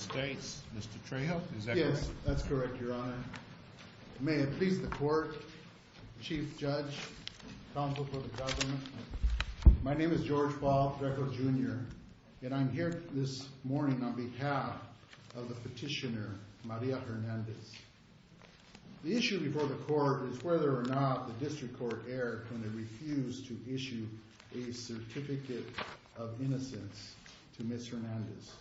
Mr. Trejo, is that correct? Yes, that's correct, your honor. May it please the court, chief judge, counsel for the government, my name is George Bob Drekel Jr. and I'm here this morning on behalf of the petitioner Maria Hernandez. The issue before the court is whether or not the district court erred when they refused to issue a certificate of innocence to Ms. Hernandez.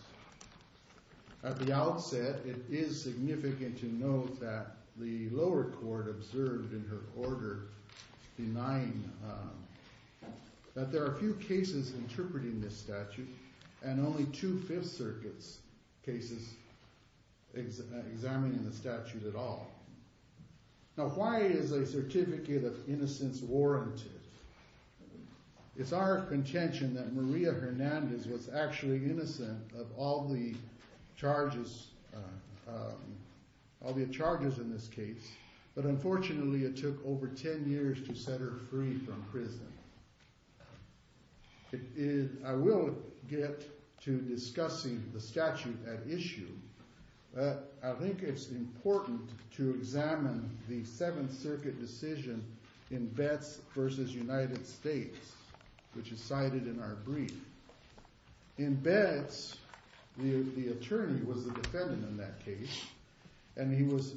At the outset, it is significant to note that the lower court observed in her order denying that there are few cases interpreting this statute and only two fifth circuits cases examining the statute at all. Now why is a certificate of innocence warranted? It's our contention that Maria Hernandez was actually innocent of all the charges all the charges in this case, but unfortunately it took over 10 years to set her free from prison. I will get to discussing the statute at issue, but I think it's important to examine the seventh circuit decision in Betz v. United States, which is cited in our brief. In Betz, the attorney was the defendant in that case and he was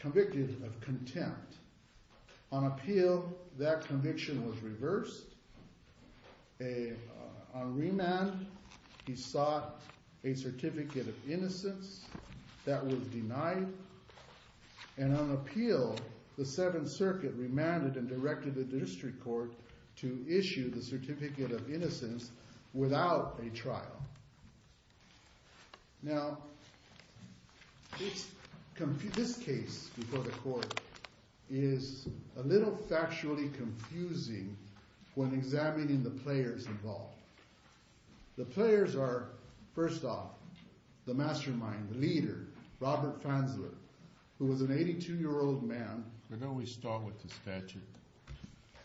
convicted of contempt. On appeal, that conviction was reversed. On remand, he sought a certificate of innocence that was denied and on appeal, the seventh circuit remanded and directed the district court to issue the certificate of innocence without a trial. Now, this case before the court is a little factually confusing when examining the players involved. The players are, first off, the mastermind, the leader, Robert Franzler, who was an 82-year-old man. But don't we start with the statute?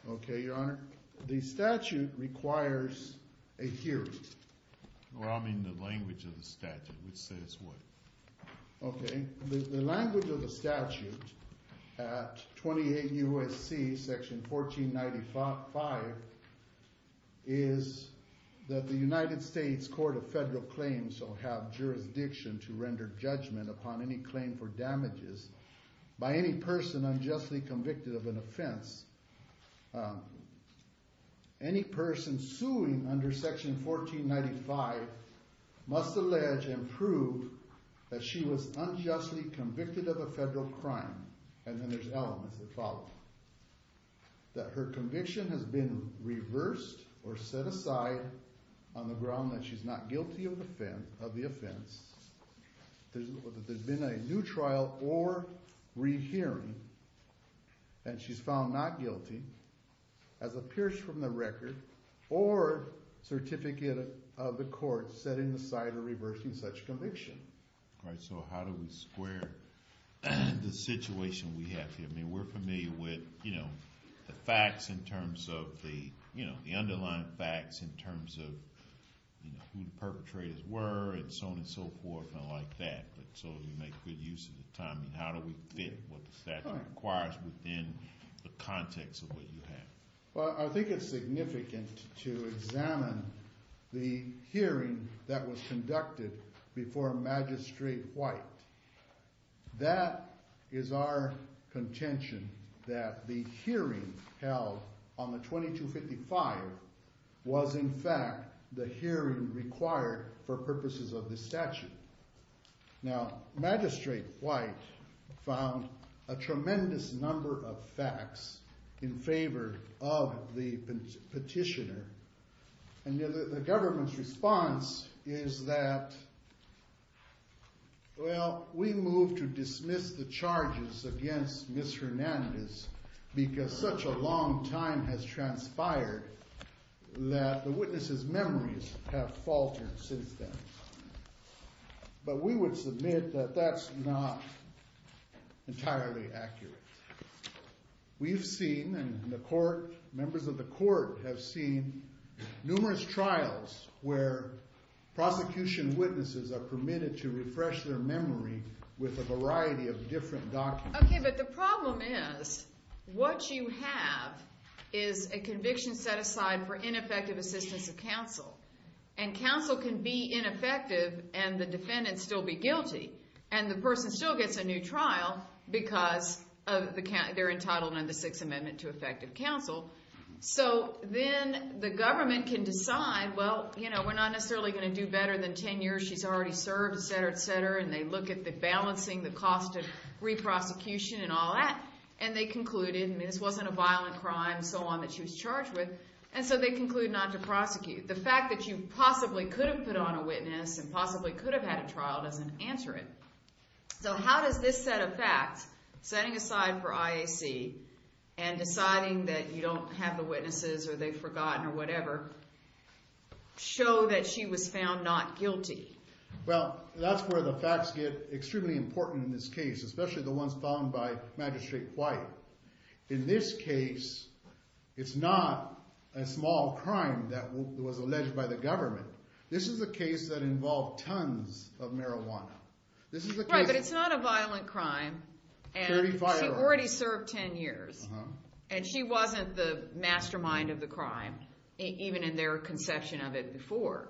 Okay, your honor. The statute requires a hearing. Well, I mean the language of the statute, which says what? Okay, the language of the statute at 28 U.S.C. section 1495 is that the United States court of federal claims shall have jurisdiction to render judgment upon any claim for damages by any person unjustly convicted of offense. Any person suing under section 1495 must allege and prove that she was unjustly convicted of a federal crime. And then there's elements that follow. That her conviction has been reversed or set aside on the ground that she's not guilty of the offense. There's been a new trial or rehearing and she's found not guilty as appears from the record or certificate of the court setting aside or reversing such conviction. All right, so how do we square the situation we have here? I mean, we're familiar with, you know, the facts in terms of the, you know, the underlying facts in terms of, you know, who the perpetrators were and so on and so forth and like that. But so we make good use of the time. How do we fit what the statute requires within the context of what you have? Well, I think it's significant to examine the hearing that was conducted before Magistrate White. That is our contention that the hearing held on the 2255 was in fact the hearing required for purposes of this statute. Now, Magistrate White found a tremendous number of facts in favor of the petitioner and the government's response is that, well, we move to dismiss the charges against Ms. Hernandez because such a long time has transpired that the witness's memories have been lost since then. But we would submit that that's not entirely accurate. We've seen in the court, members of the court have seen numerous trials where prosecution witnesses are permitted to refresh their memory with a variety of different documents. Okay, but the problem is what you have is a conviction set aside for ineffective assistance of counsel. And counsel can be ineffective and the defendant still be guilty. And the person still gets a new trial because they're entitled under the Sixth Amendment to effective counsel. So then the government can decide, well, you know, we're not necessarily going to do better than 10 years she's already served, et cetera, et cetera. And they look at the balancing, the cost of re-prosecution and all that. And they concluded, I mean, this wasn't a violent crime, so on, that she was charged with. And so they conclude not to prosecute. The fact that you possibly could have put on a witness and possibly could have had a trial doesn't answer it. So how does this set of facts, setting aside for IAC and deciding that you don't have the witnesses or they've forgotten or whatever, show that she was found not guilty? Well, that's where the facts get extremely important in this case. In this case, it's not a small crime that was alleged by the government. This is a case that involved tons of marijuana. Right, but it's not a violent crime. She already served 10 years. And she wasn't the mastermind of the crime, even in their conception of it before.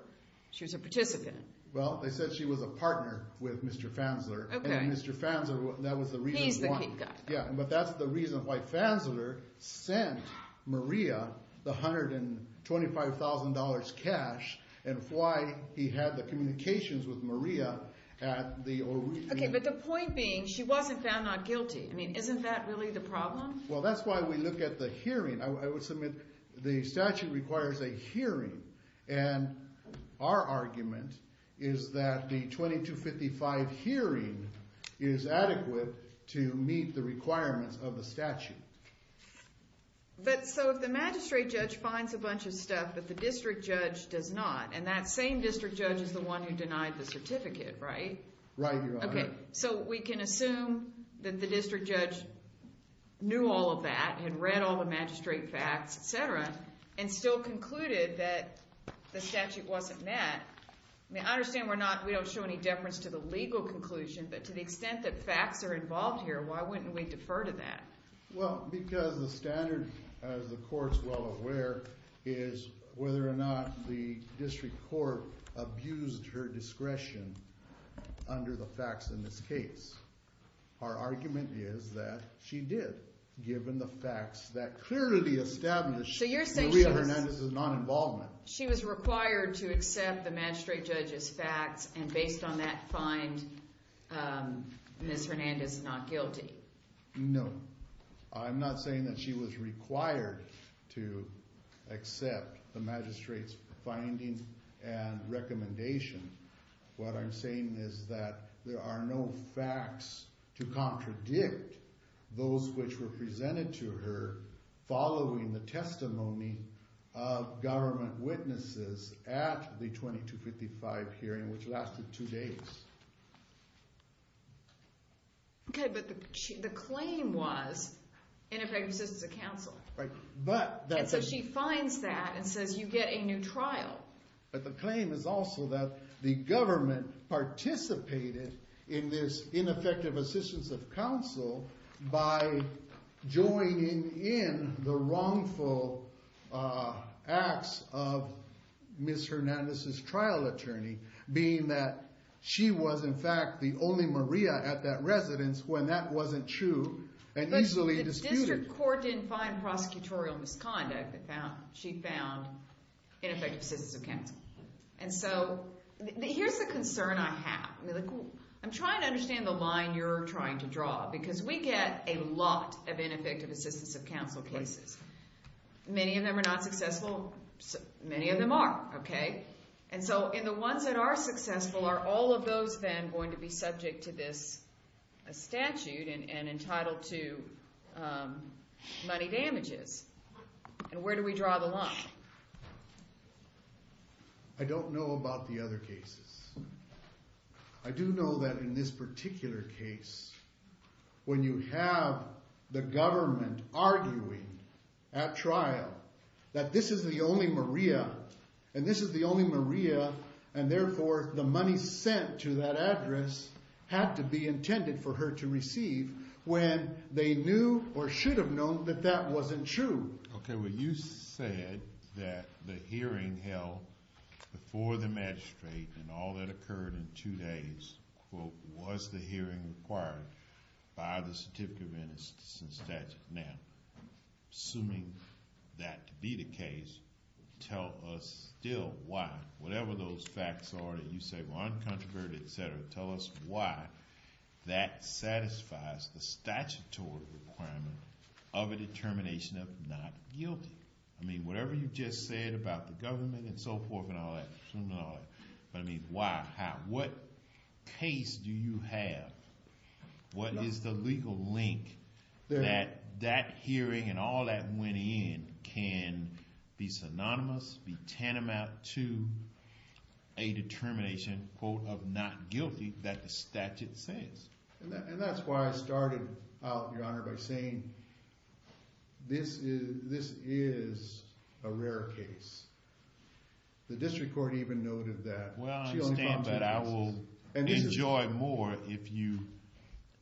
She was a participant. Well, they said she was a partner with Mr. Fanzler. And Mr. Fanzler, that was the reason why. He's the key guy. Yeah, but that's the reason why Fanzler sent Maria the $125,000 cash and why he had the communications with Maria at the original. Okay, but the point being, she wasn't found not guilty. I mean, isn't that really the problem? Well, that's why we look at the hearing. I would submit the statute requires a hearing. And our argument is that the 2255 hearing is adequate to meet the requirements of the statute. But so if the magistrate judge finds a bunch of stuff that the district judge does not, and that same district judge is the one who denied the certificate, right? Right, Your Honor. Okay, so we can assume that the district judge knew all of that, had read all the magistrate facts, etc., and still concluded that the statute wasn't met. I mean, I understand we don't show any deference to the legal conclusion, but to the extent that facts are involved here, why wouldn't we defer to that? Well, because the standard, as the court's well aware, is whether or not the district court abused her discretion under the facts in this case. Our argument is that she did, given the facts that clearly established Maria Hernandez's non-involvement. She was required to accept the magistrate judge's facts, and based on that find, Ms. Hernandez is not guilty. No, I'm not saying that she was required to accept the magistrate's findings and recommendations. What I'm saying is that there are no facts to contradict those which were presented to her following the testimony of government witnesses at the 2255 hearing, which lasted two days. Okay, but the claim was ineffective assistance of counsel. Right, but that's... So she finds that and says you get a new trial. But the claim is also that the joining in the wrongful acts of Ms. Hernandez's trial attorney, being that she was, in fact, the only Maria at that residence when that wasn't true and easily disputed. But the district court didn't find prosecutorial misconduct. She found ineffective assistance of counsel. And so here's the concern I have. I'm trying to understand the line you're trying to draw, because we get a lot of ineffective assistance of counsel cases. Many of them are not successful, many of them are, okay? And so in the ones that are successful, are all of those then going to be subject to this statute and entitled to money damages? And where do we draw the line? I don't know about the other cases. I do know that in this particular case, when you have the government arguing at trial that this is the only Maria, and this is the only Maria, and therefore the money sent to that address had to be intended for her to receive when they knew or should have known that that wasn't true. Okay, well, you said that the hearing held before the magistrate and all that occurred in two days, was the hearing required by the certificate of innocence statute. Now, assuming that to be the case, tell us still why, whatever those facts are that you say were uncontroverted, etc., tell us why that satisfies the statutory requirement of a determination of not guilty. I mean, whatever you just said about the government and so forth and all that, assuming all that, I mean, why, how, what case do you have? What is the legal link that that hearing and all that went in can be synonymous, be tantamount to a determination, quote, of not guilty that the statute says? And that's why I started out, Your Honor, by saying this is a rare case. The district court even noted that. Well, I understand, but I will enjoy more if you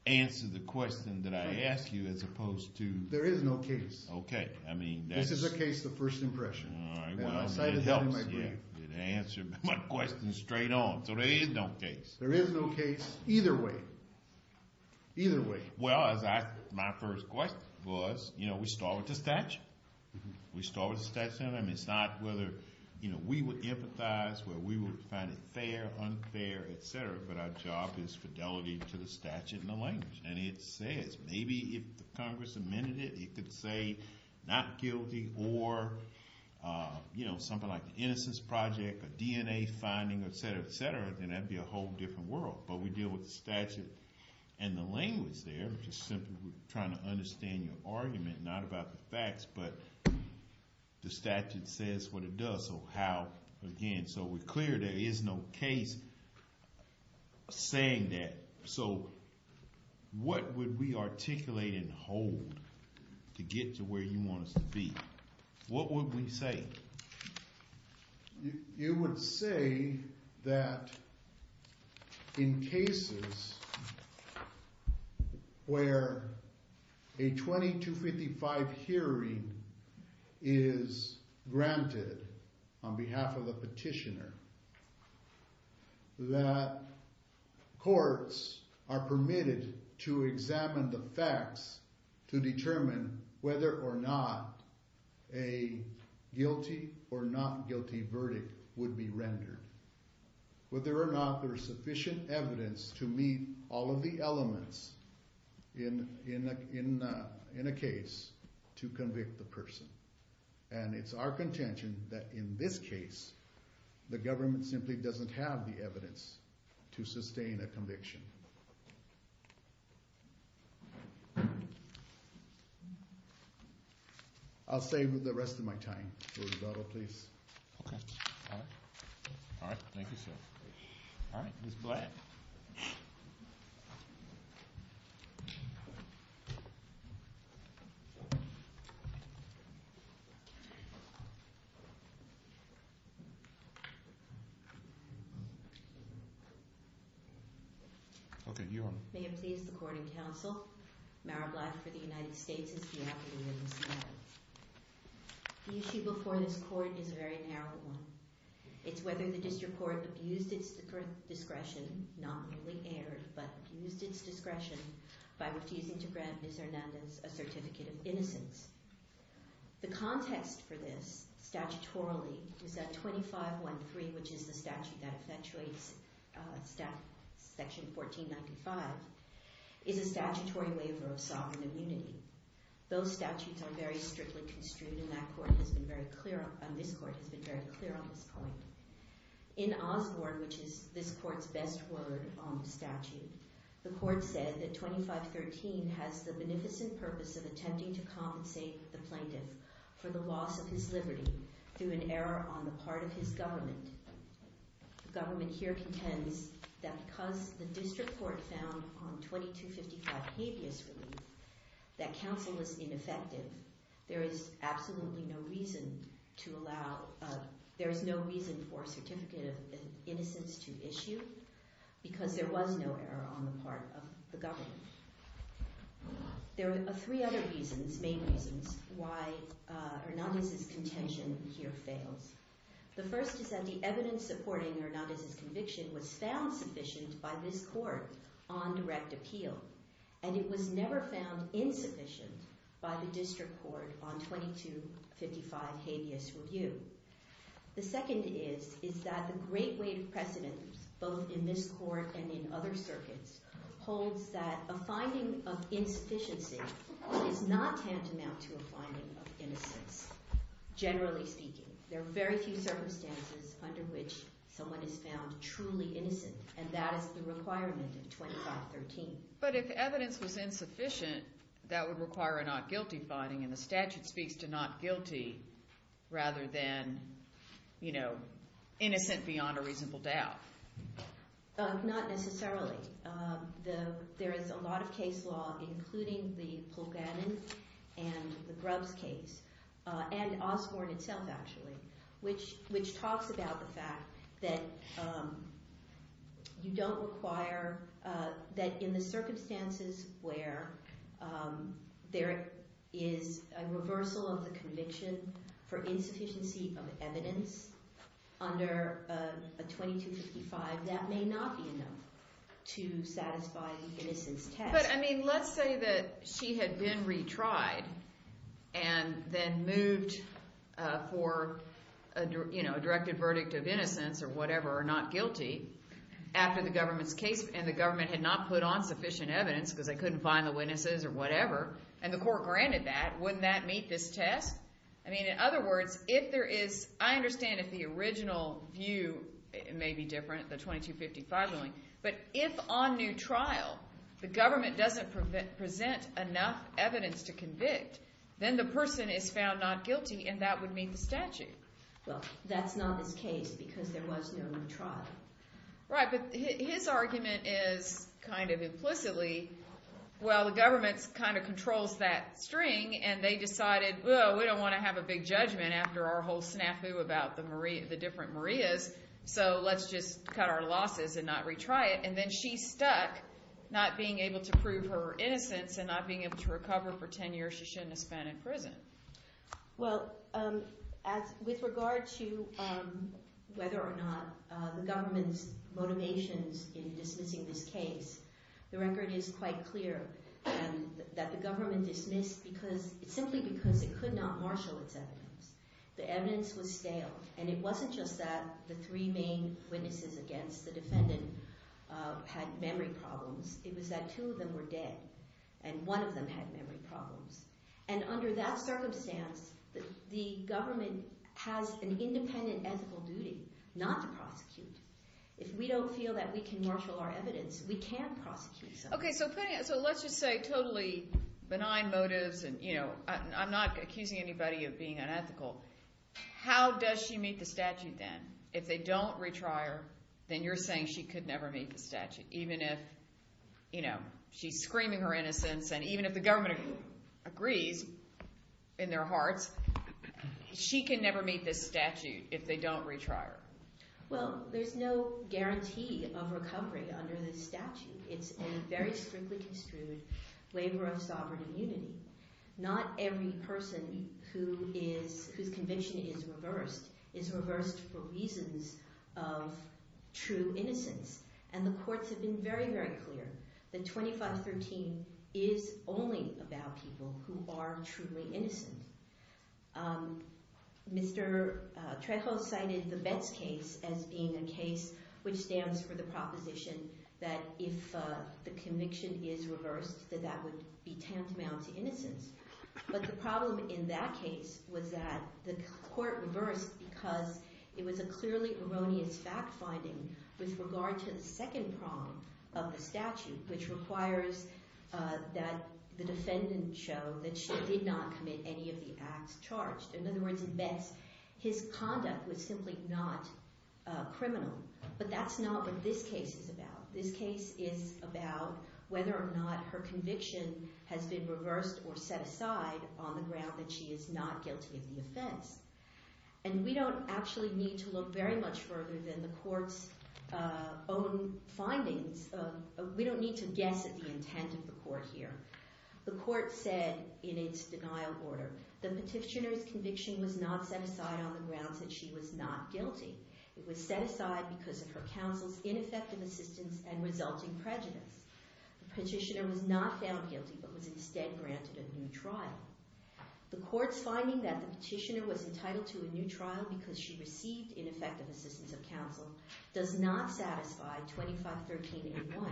answer the question that I ask you as opposed to. There is no case. Okay, I mean, that's. This is a case, the first impression. All right, well, it helps, yeah, it answered my question straight on, so there is no case. There is no case either way, either way. Well, as I, my first question was, you know, we start with the statute. We start with the statute. I mean, it's not whether, you know, we would empathize, whether we would find it fair, unfair, etc., but our job is fidelity to the statute and the language, and it says maybe if the Congress amended it, it could say not guilty or, you know, something like the Innocence Project, a DNA finding, etc., etc., then that'd be a whole different world, but we deal with the statute and the language there, just simply trying to understand your argument, not about the facts, but the statute says what it does, so how, again, so we're clear there is no case saying that, so what would we articulate and hold to get to where you want us to be? What would we say? You would say that in cases where a 2255 hearing is granted on behalf of the petitioner, that courts are permitted to examine the facts to determine whether or not a guilty or not guilty verdict would be rendered, whether or not there is sufficient evidence to meet all of the elements in a case to convict the person, and it's our contention that in this case, the government simply doesn't have the evidence to sustain a conviction. I'll stay with the rest of my time. Rosado, please. Okay, all right. All right, thank you, sir. All right, Ms. Black. Okay, you're on. May it please the Court and Counsel, Mara Black for the United States. The issue before this Court is a very narrow one. It's whether the District Court abused its discretion, not merely erred, but used its discretion by refusing to grant Ms. Hernandez a certificate of innocence. The context for this, of sovereign immunity. Those statutes are very strictly construed, and this Court has been very clear on this point. In Osborne, which is this Court's best word on the statute, the Court said that 2513 has the beneficent purpose of attempting to compensate the plaintiff for the loss of his liberty through an error on the part of his government. The government here contends that because the District Court found on 2255 habeas relief that counsel is ineffective, there is absolutely no reason to allow—there is no reason for a certificate of innocence to issue because there was no error on the part of the government. There are three other reasons, main reasons, why Hernandez's contention here fails. The first is that the evidence supporting Hernandez's is insufficient by this Court on direct appeal, and it was never found insufficient by the District Court on 2255 habeas review. The second is that the great weight of precedent, both in this Court and in other circuits, holds that a finding of insufficiency is not tantamount to a finding of innocence, generally speaking. There are very few circumstances under which someone is found truly innocent, and that is the requirement of 2513. But if evidence was insufficient, that would require a not guilty finding, and the statute speaks to not guilty rather than, you know, innocent beyond a reasonable doubt. Not necessarily. There is a lot of case law, including the Polk-Gannon and the Grubbs case, and Osborne itself, actually, which talks about the fact that you don't require, that in the circumstances where there is a reversal of the conviction for insufficiency of evidence under a 2255, that may not be enough to satisfy the innocence test. But, I mean, let's say that she had been retried and then moved for, you know, a corrected verdict of innocence or whatever, or not guilty, after the government's case, and the government had not put on sufficient evidence because they couldn't find the witnesses or whatever, and the Court granted that, wouldn't that meet this test? I mean, in other words, if there is, I understand if the original view may be different, the 2255 ruling, but if on new trial the government doesn't present enough evidence to convict, then the person is found not on this case because there was no new trial. Right, but his argument is, kind of implicitly, well, the government kind of controls that string and they decided, well, we don't want to have a big judgment after our whole snafu about the Maria, the different Marias, so let's just cut our losses and not retry it, and then she's stuck not being able to prove her innocence and not being able to recover for 10 years she shouldn't have spent in prison. Well, with regard to whether or not the government's motivations in dismissing this case, the record is quite clear and that the government dismissed because, simply because it could not marshal its evidence. The evidence was stale, and it wasn't just that the three main witnesses against the defendant had memory problems, it was that two of them were dead and one of them had memory problems, and under that circumstance the government has an independent ethical duty not to prosecute. If we don't feel that we can marshal our evidence, we can prosecute someone. Okay, so putting it, so let's just say totally benign motives and, you know, I'm not accusing anybody of being unethical, how does she meet the statute then? If they don't retry her, then you're saying she could never meet the statute, even if, you know, she's screaming her innocence and even if the government agrees in their hearts, she can never meet this statute if they don't retry her. Well, there's no guarantee of recovery under this statute. It's a very strictly construed labor of sovereign immunity. Not every person who is, whose conviction is reversed is reversed for reasons of true innocence, and the courts have been very, very clear that 2513 is only about people who are truly innocent. Mr. Trejo cited the Betts case as being a case which stands for the proposition that if the But the problem in that case was that the court reversed because it was a clearly erroneous fact-finding with regard to the second prong of the statute, which requires that the defendant show that she did not commit any of the acts charged. In other words, in Betts, his conduct was simply not criminal, but that's not what this case is about. This case is about whether or not her conviction has been reversed or set aside on the ground that she is not guilty of the offense, and we don't actually need to look very much further than the court's own findings. We don't need to guess at the intent of the court here. The court said in its denial order, the petitioner's conviction was not set aside on the grounds that she was not guilty. It was set aside because of her counsel's ineffective assistance and resulting prejudice. The petitioner was not found guilty, but was instead granted a new trial. The court's finding that the petitioner was entitled to a new trial because she received ineffective assistance of counsel does not satisfy 2513A1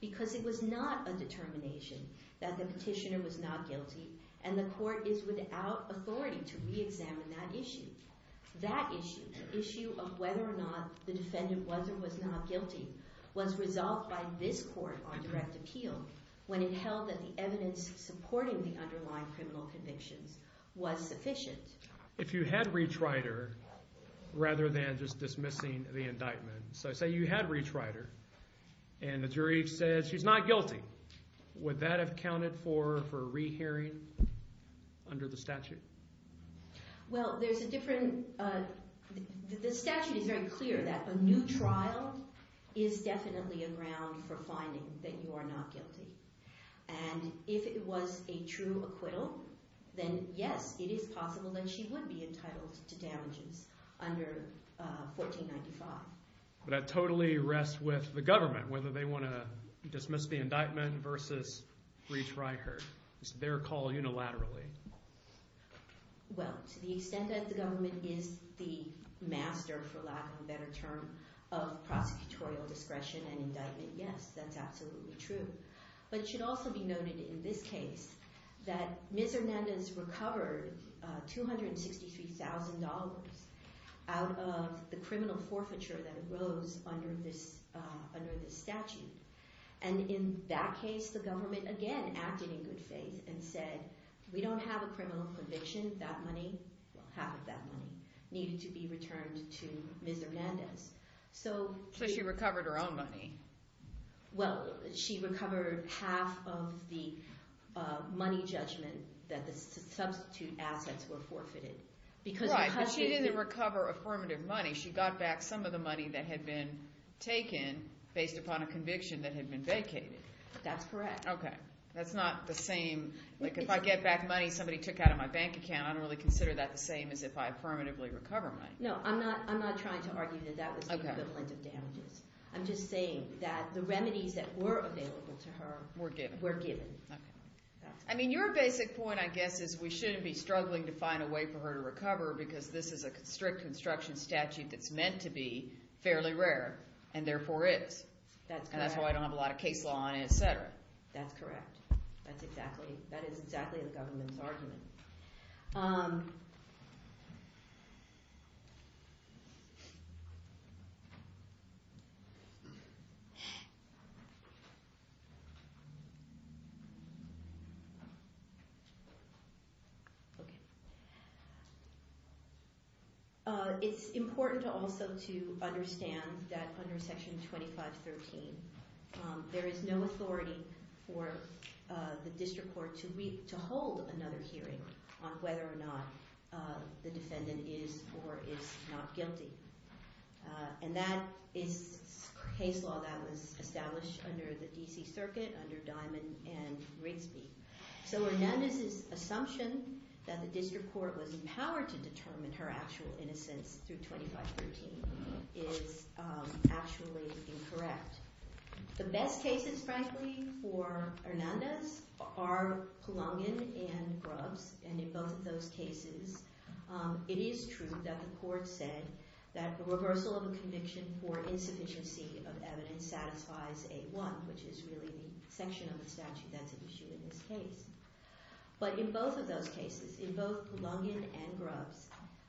because it was not a determination that the petitioner was not guilty, and the court is without authority to re-examine that issue. That issue, the issue of the defendant was or was not guilty, was resolved by this court on direct appeal when it held that the evidence supporting the underlying criminal convictions was sufficient. If you had retried her rather than just dismissing the indictment, so say you had retried her and the jury says she's not guilty, would that have counted for a re-hearing under the statute? Well, there's a different... The statute is very clear that a new trial is definitely a ground for finding that you are not guilty, and if it was a true acquittal, then yes, it is possible that she would be entitled to damages under 1495. But that totally rests with the government, whether they want to dismiss the indictment versus retry her. It's their call unilaterally. Well, to the extent that the government is the master, for lack of a better term, of prosecutorial discretion and indictment, yes, that's absolutely true. But it should also be noted in this case that Ms. Hernandez recovered $263,000 out of the criminal forfeiture that arose under this statute, and in that case the government again acted in good faith and said, we don't have a criminal conviction, that money, well half of that money, needed to be returned to Ms. Hernandez. So she recovered her own money? Well, she recovered half of the money judgment that the substitute assets were forfeited. Right, but she didn't recover affirmative money, she got back some of the money that had been taken based upon a conviction that had been vacated. That's correct. Okay, that's not the same, like if I get back money somebody took out of my bank account, I don't really consider that the same as if I affirmatively recover money. No, I'm not trying to argue that that was the equivalent of damages. I'm just saying that the remedies that were available to her were given. I mean, your basic point, I guess, is we shouldn't be struggling to find a way for her to recover because this is a strict construction statute that's meant to be That's correct. That is exactly the government's argument. Okay. It's important also to understand that under section 2513, there is no authority for the district court to hold another hearing on whether or not the defendant is or is not guilty. And that is case law that was established under the D.C. Circuit under Diamond and Rigsby. So Hernandez's assumption that the district court was empowered to determine her actual innocence through 2513 is actually incorrect. The best cases, frankly, for Hernandez are Pulongin and Grubbs. And in both of those cases, it is true that the court said that the reversal of a conviction for insufficiency of evidence satisfies A1, which is really the section of the statute that's at issue in this case. But in both of those cases, in both Pulongin and Grubbs,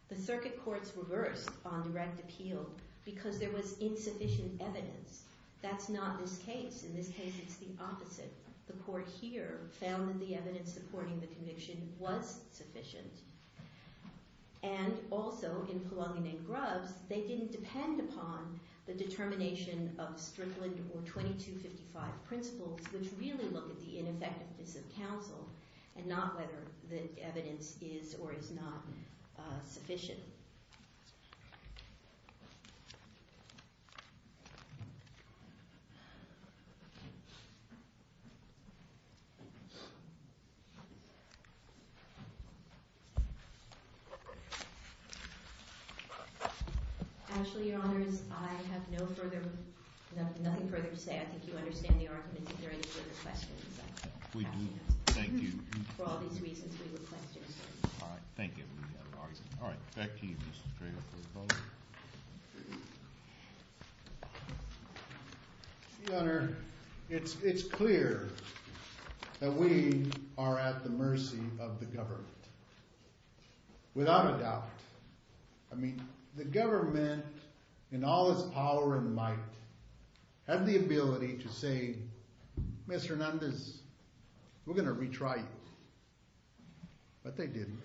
the circuit courts reversed on direct appeal because there was insufficient evidence. That's not this case. In this case, it's the opposite. The court here found that the evidence supporting the conviction was sufficient. And also, in Pulongin and Grubbs, they didn't depend upon the determination of Strickland or 2255 principles, which really look at the ineffectiveness of counsel and not whether the evidence is or is not sufficient. Actually, Your Honors, I have no further, nothing further to say. I think you understand the argument. Is there any further questions? We do. Thank you. For all these reasons, we would like to answer. All right. Thank you. All right. Back to you, Mr. Strader for the vote. Your Honor, it's clear that we are at the mercy of the government, without a doubt. I mean, the government, in all its power and might, have the ability to say Mr. Hernandez, we're going to retry you. But they didn't.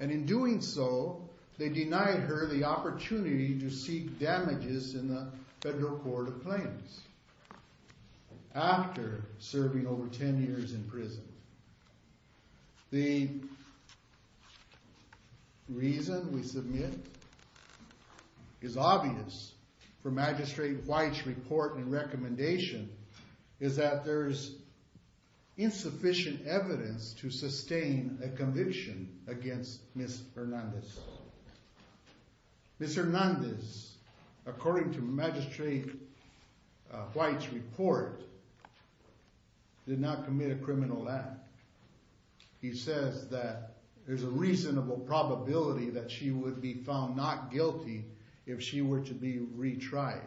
And in doing so, they denied her the opportunity to seek damages in the Federal Court of Claims after serving over 10 years in prison. The reason we submit is obvious for Magistrate White's report and recommendation is that there's insufficient evidence to sustain a conviction against Ms. Hernandez. Ms. Hernandez, according to Magistrate White's report, did not commit a criminal act. He says that there's a reasonable probability that she would be found not guilty if she were to be retried.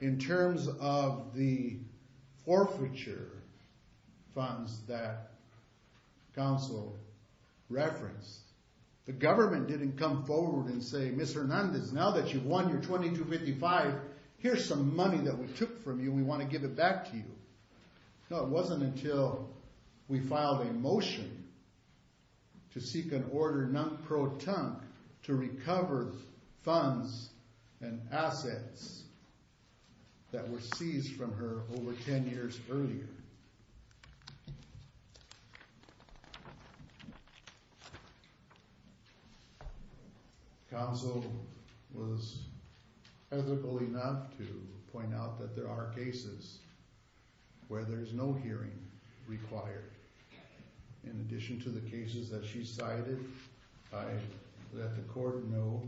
In terms of the forfeiture funds that counsel referenced, the government didn't come forward and say, Ms. Hernandez, now that you've won your $2,255, here's some money that we took from you. We want to give it back to you. No, it wasn't until we filed a motion to seek an order non-proton to recover funds and assets that were seized from her over 10 years earlier. Counsel was ethical enough to point out that there are cases where there's no hearing required. In addition to the cases that she cited, I let the court know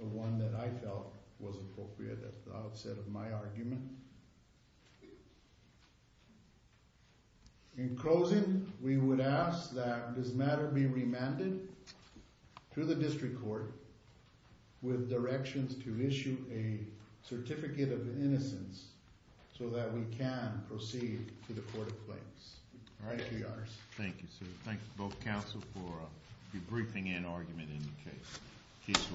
of one that I felt was appropriate at the outset of my argument. In closing, we would ask that this matter be remanded to the District Court with directions to issue a certificate of innocence so that we can proceed to the Court of Claims. All right. Thank you, sir. Thank you both, counsel, for debriefing and argument in the case.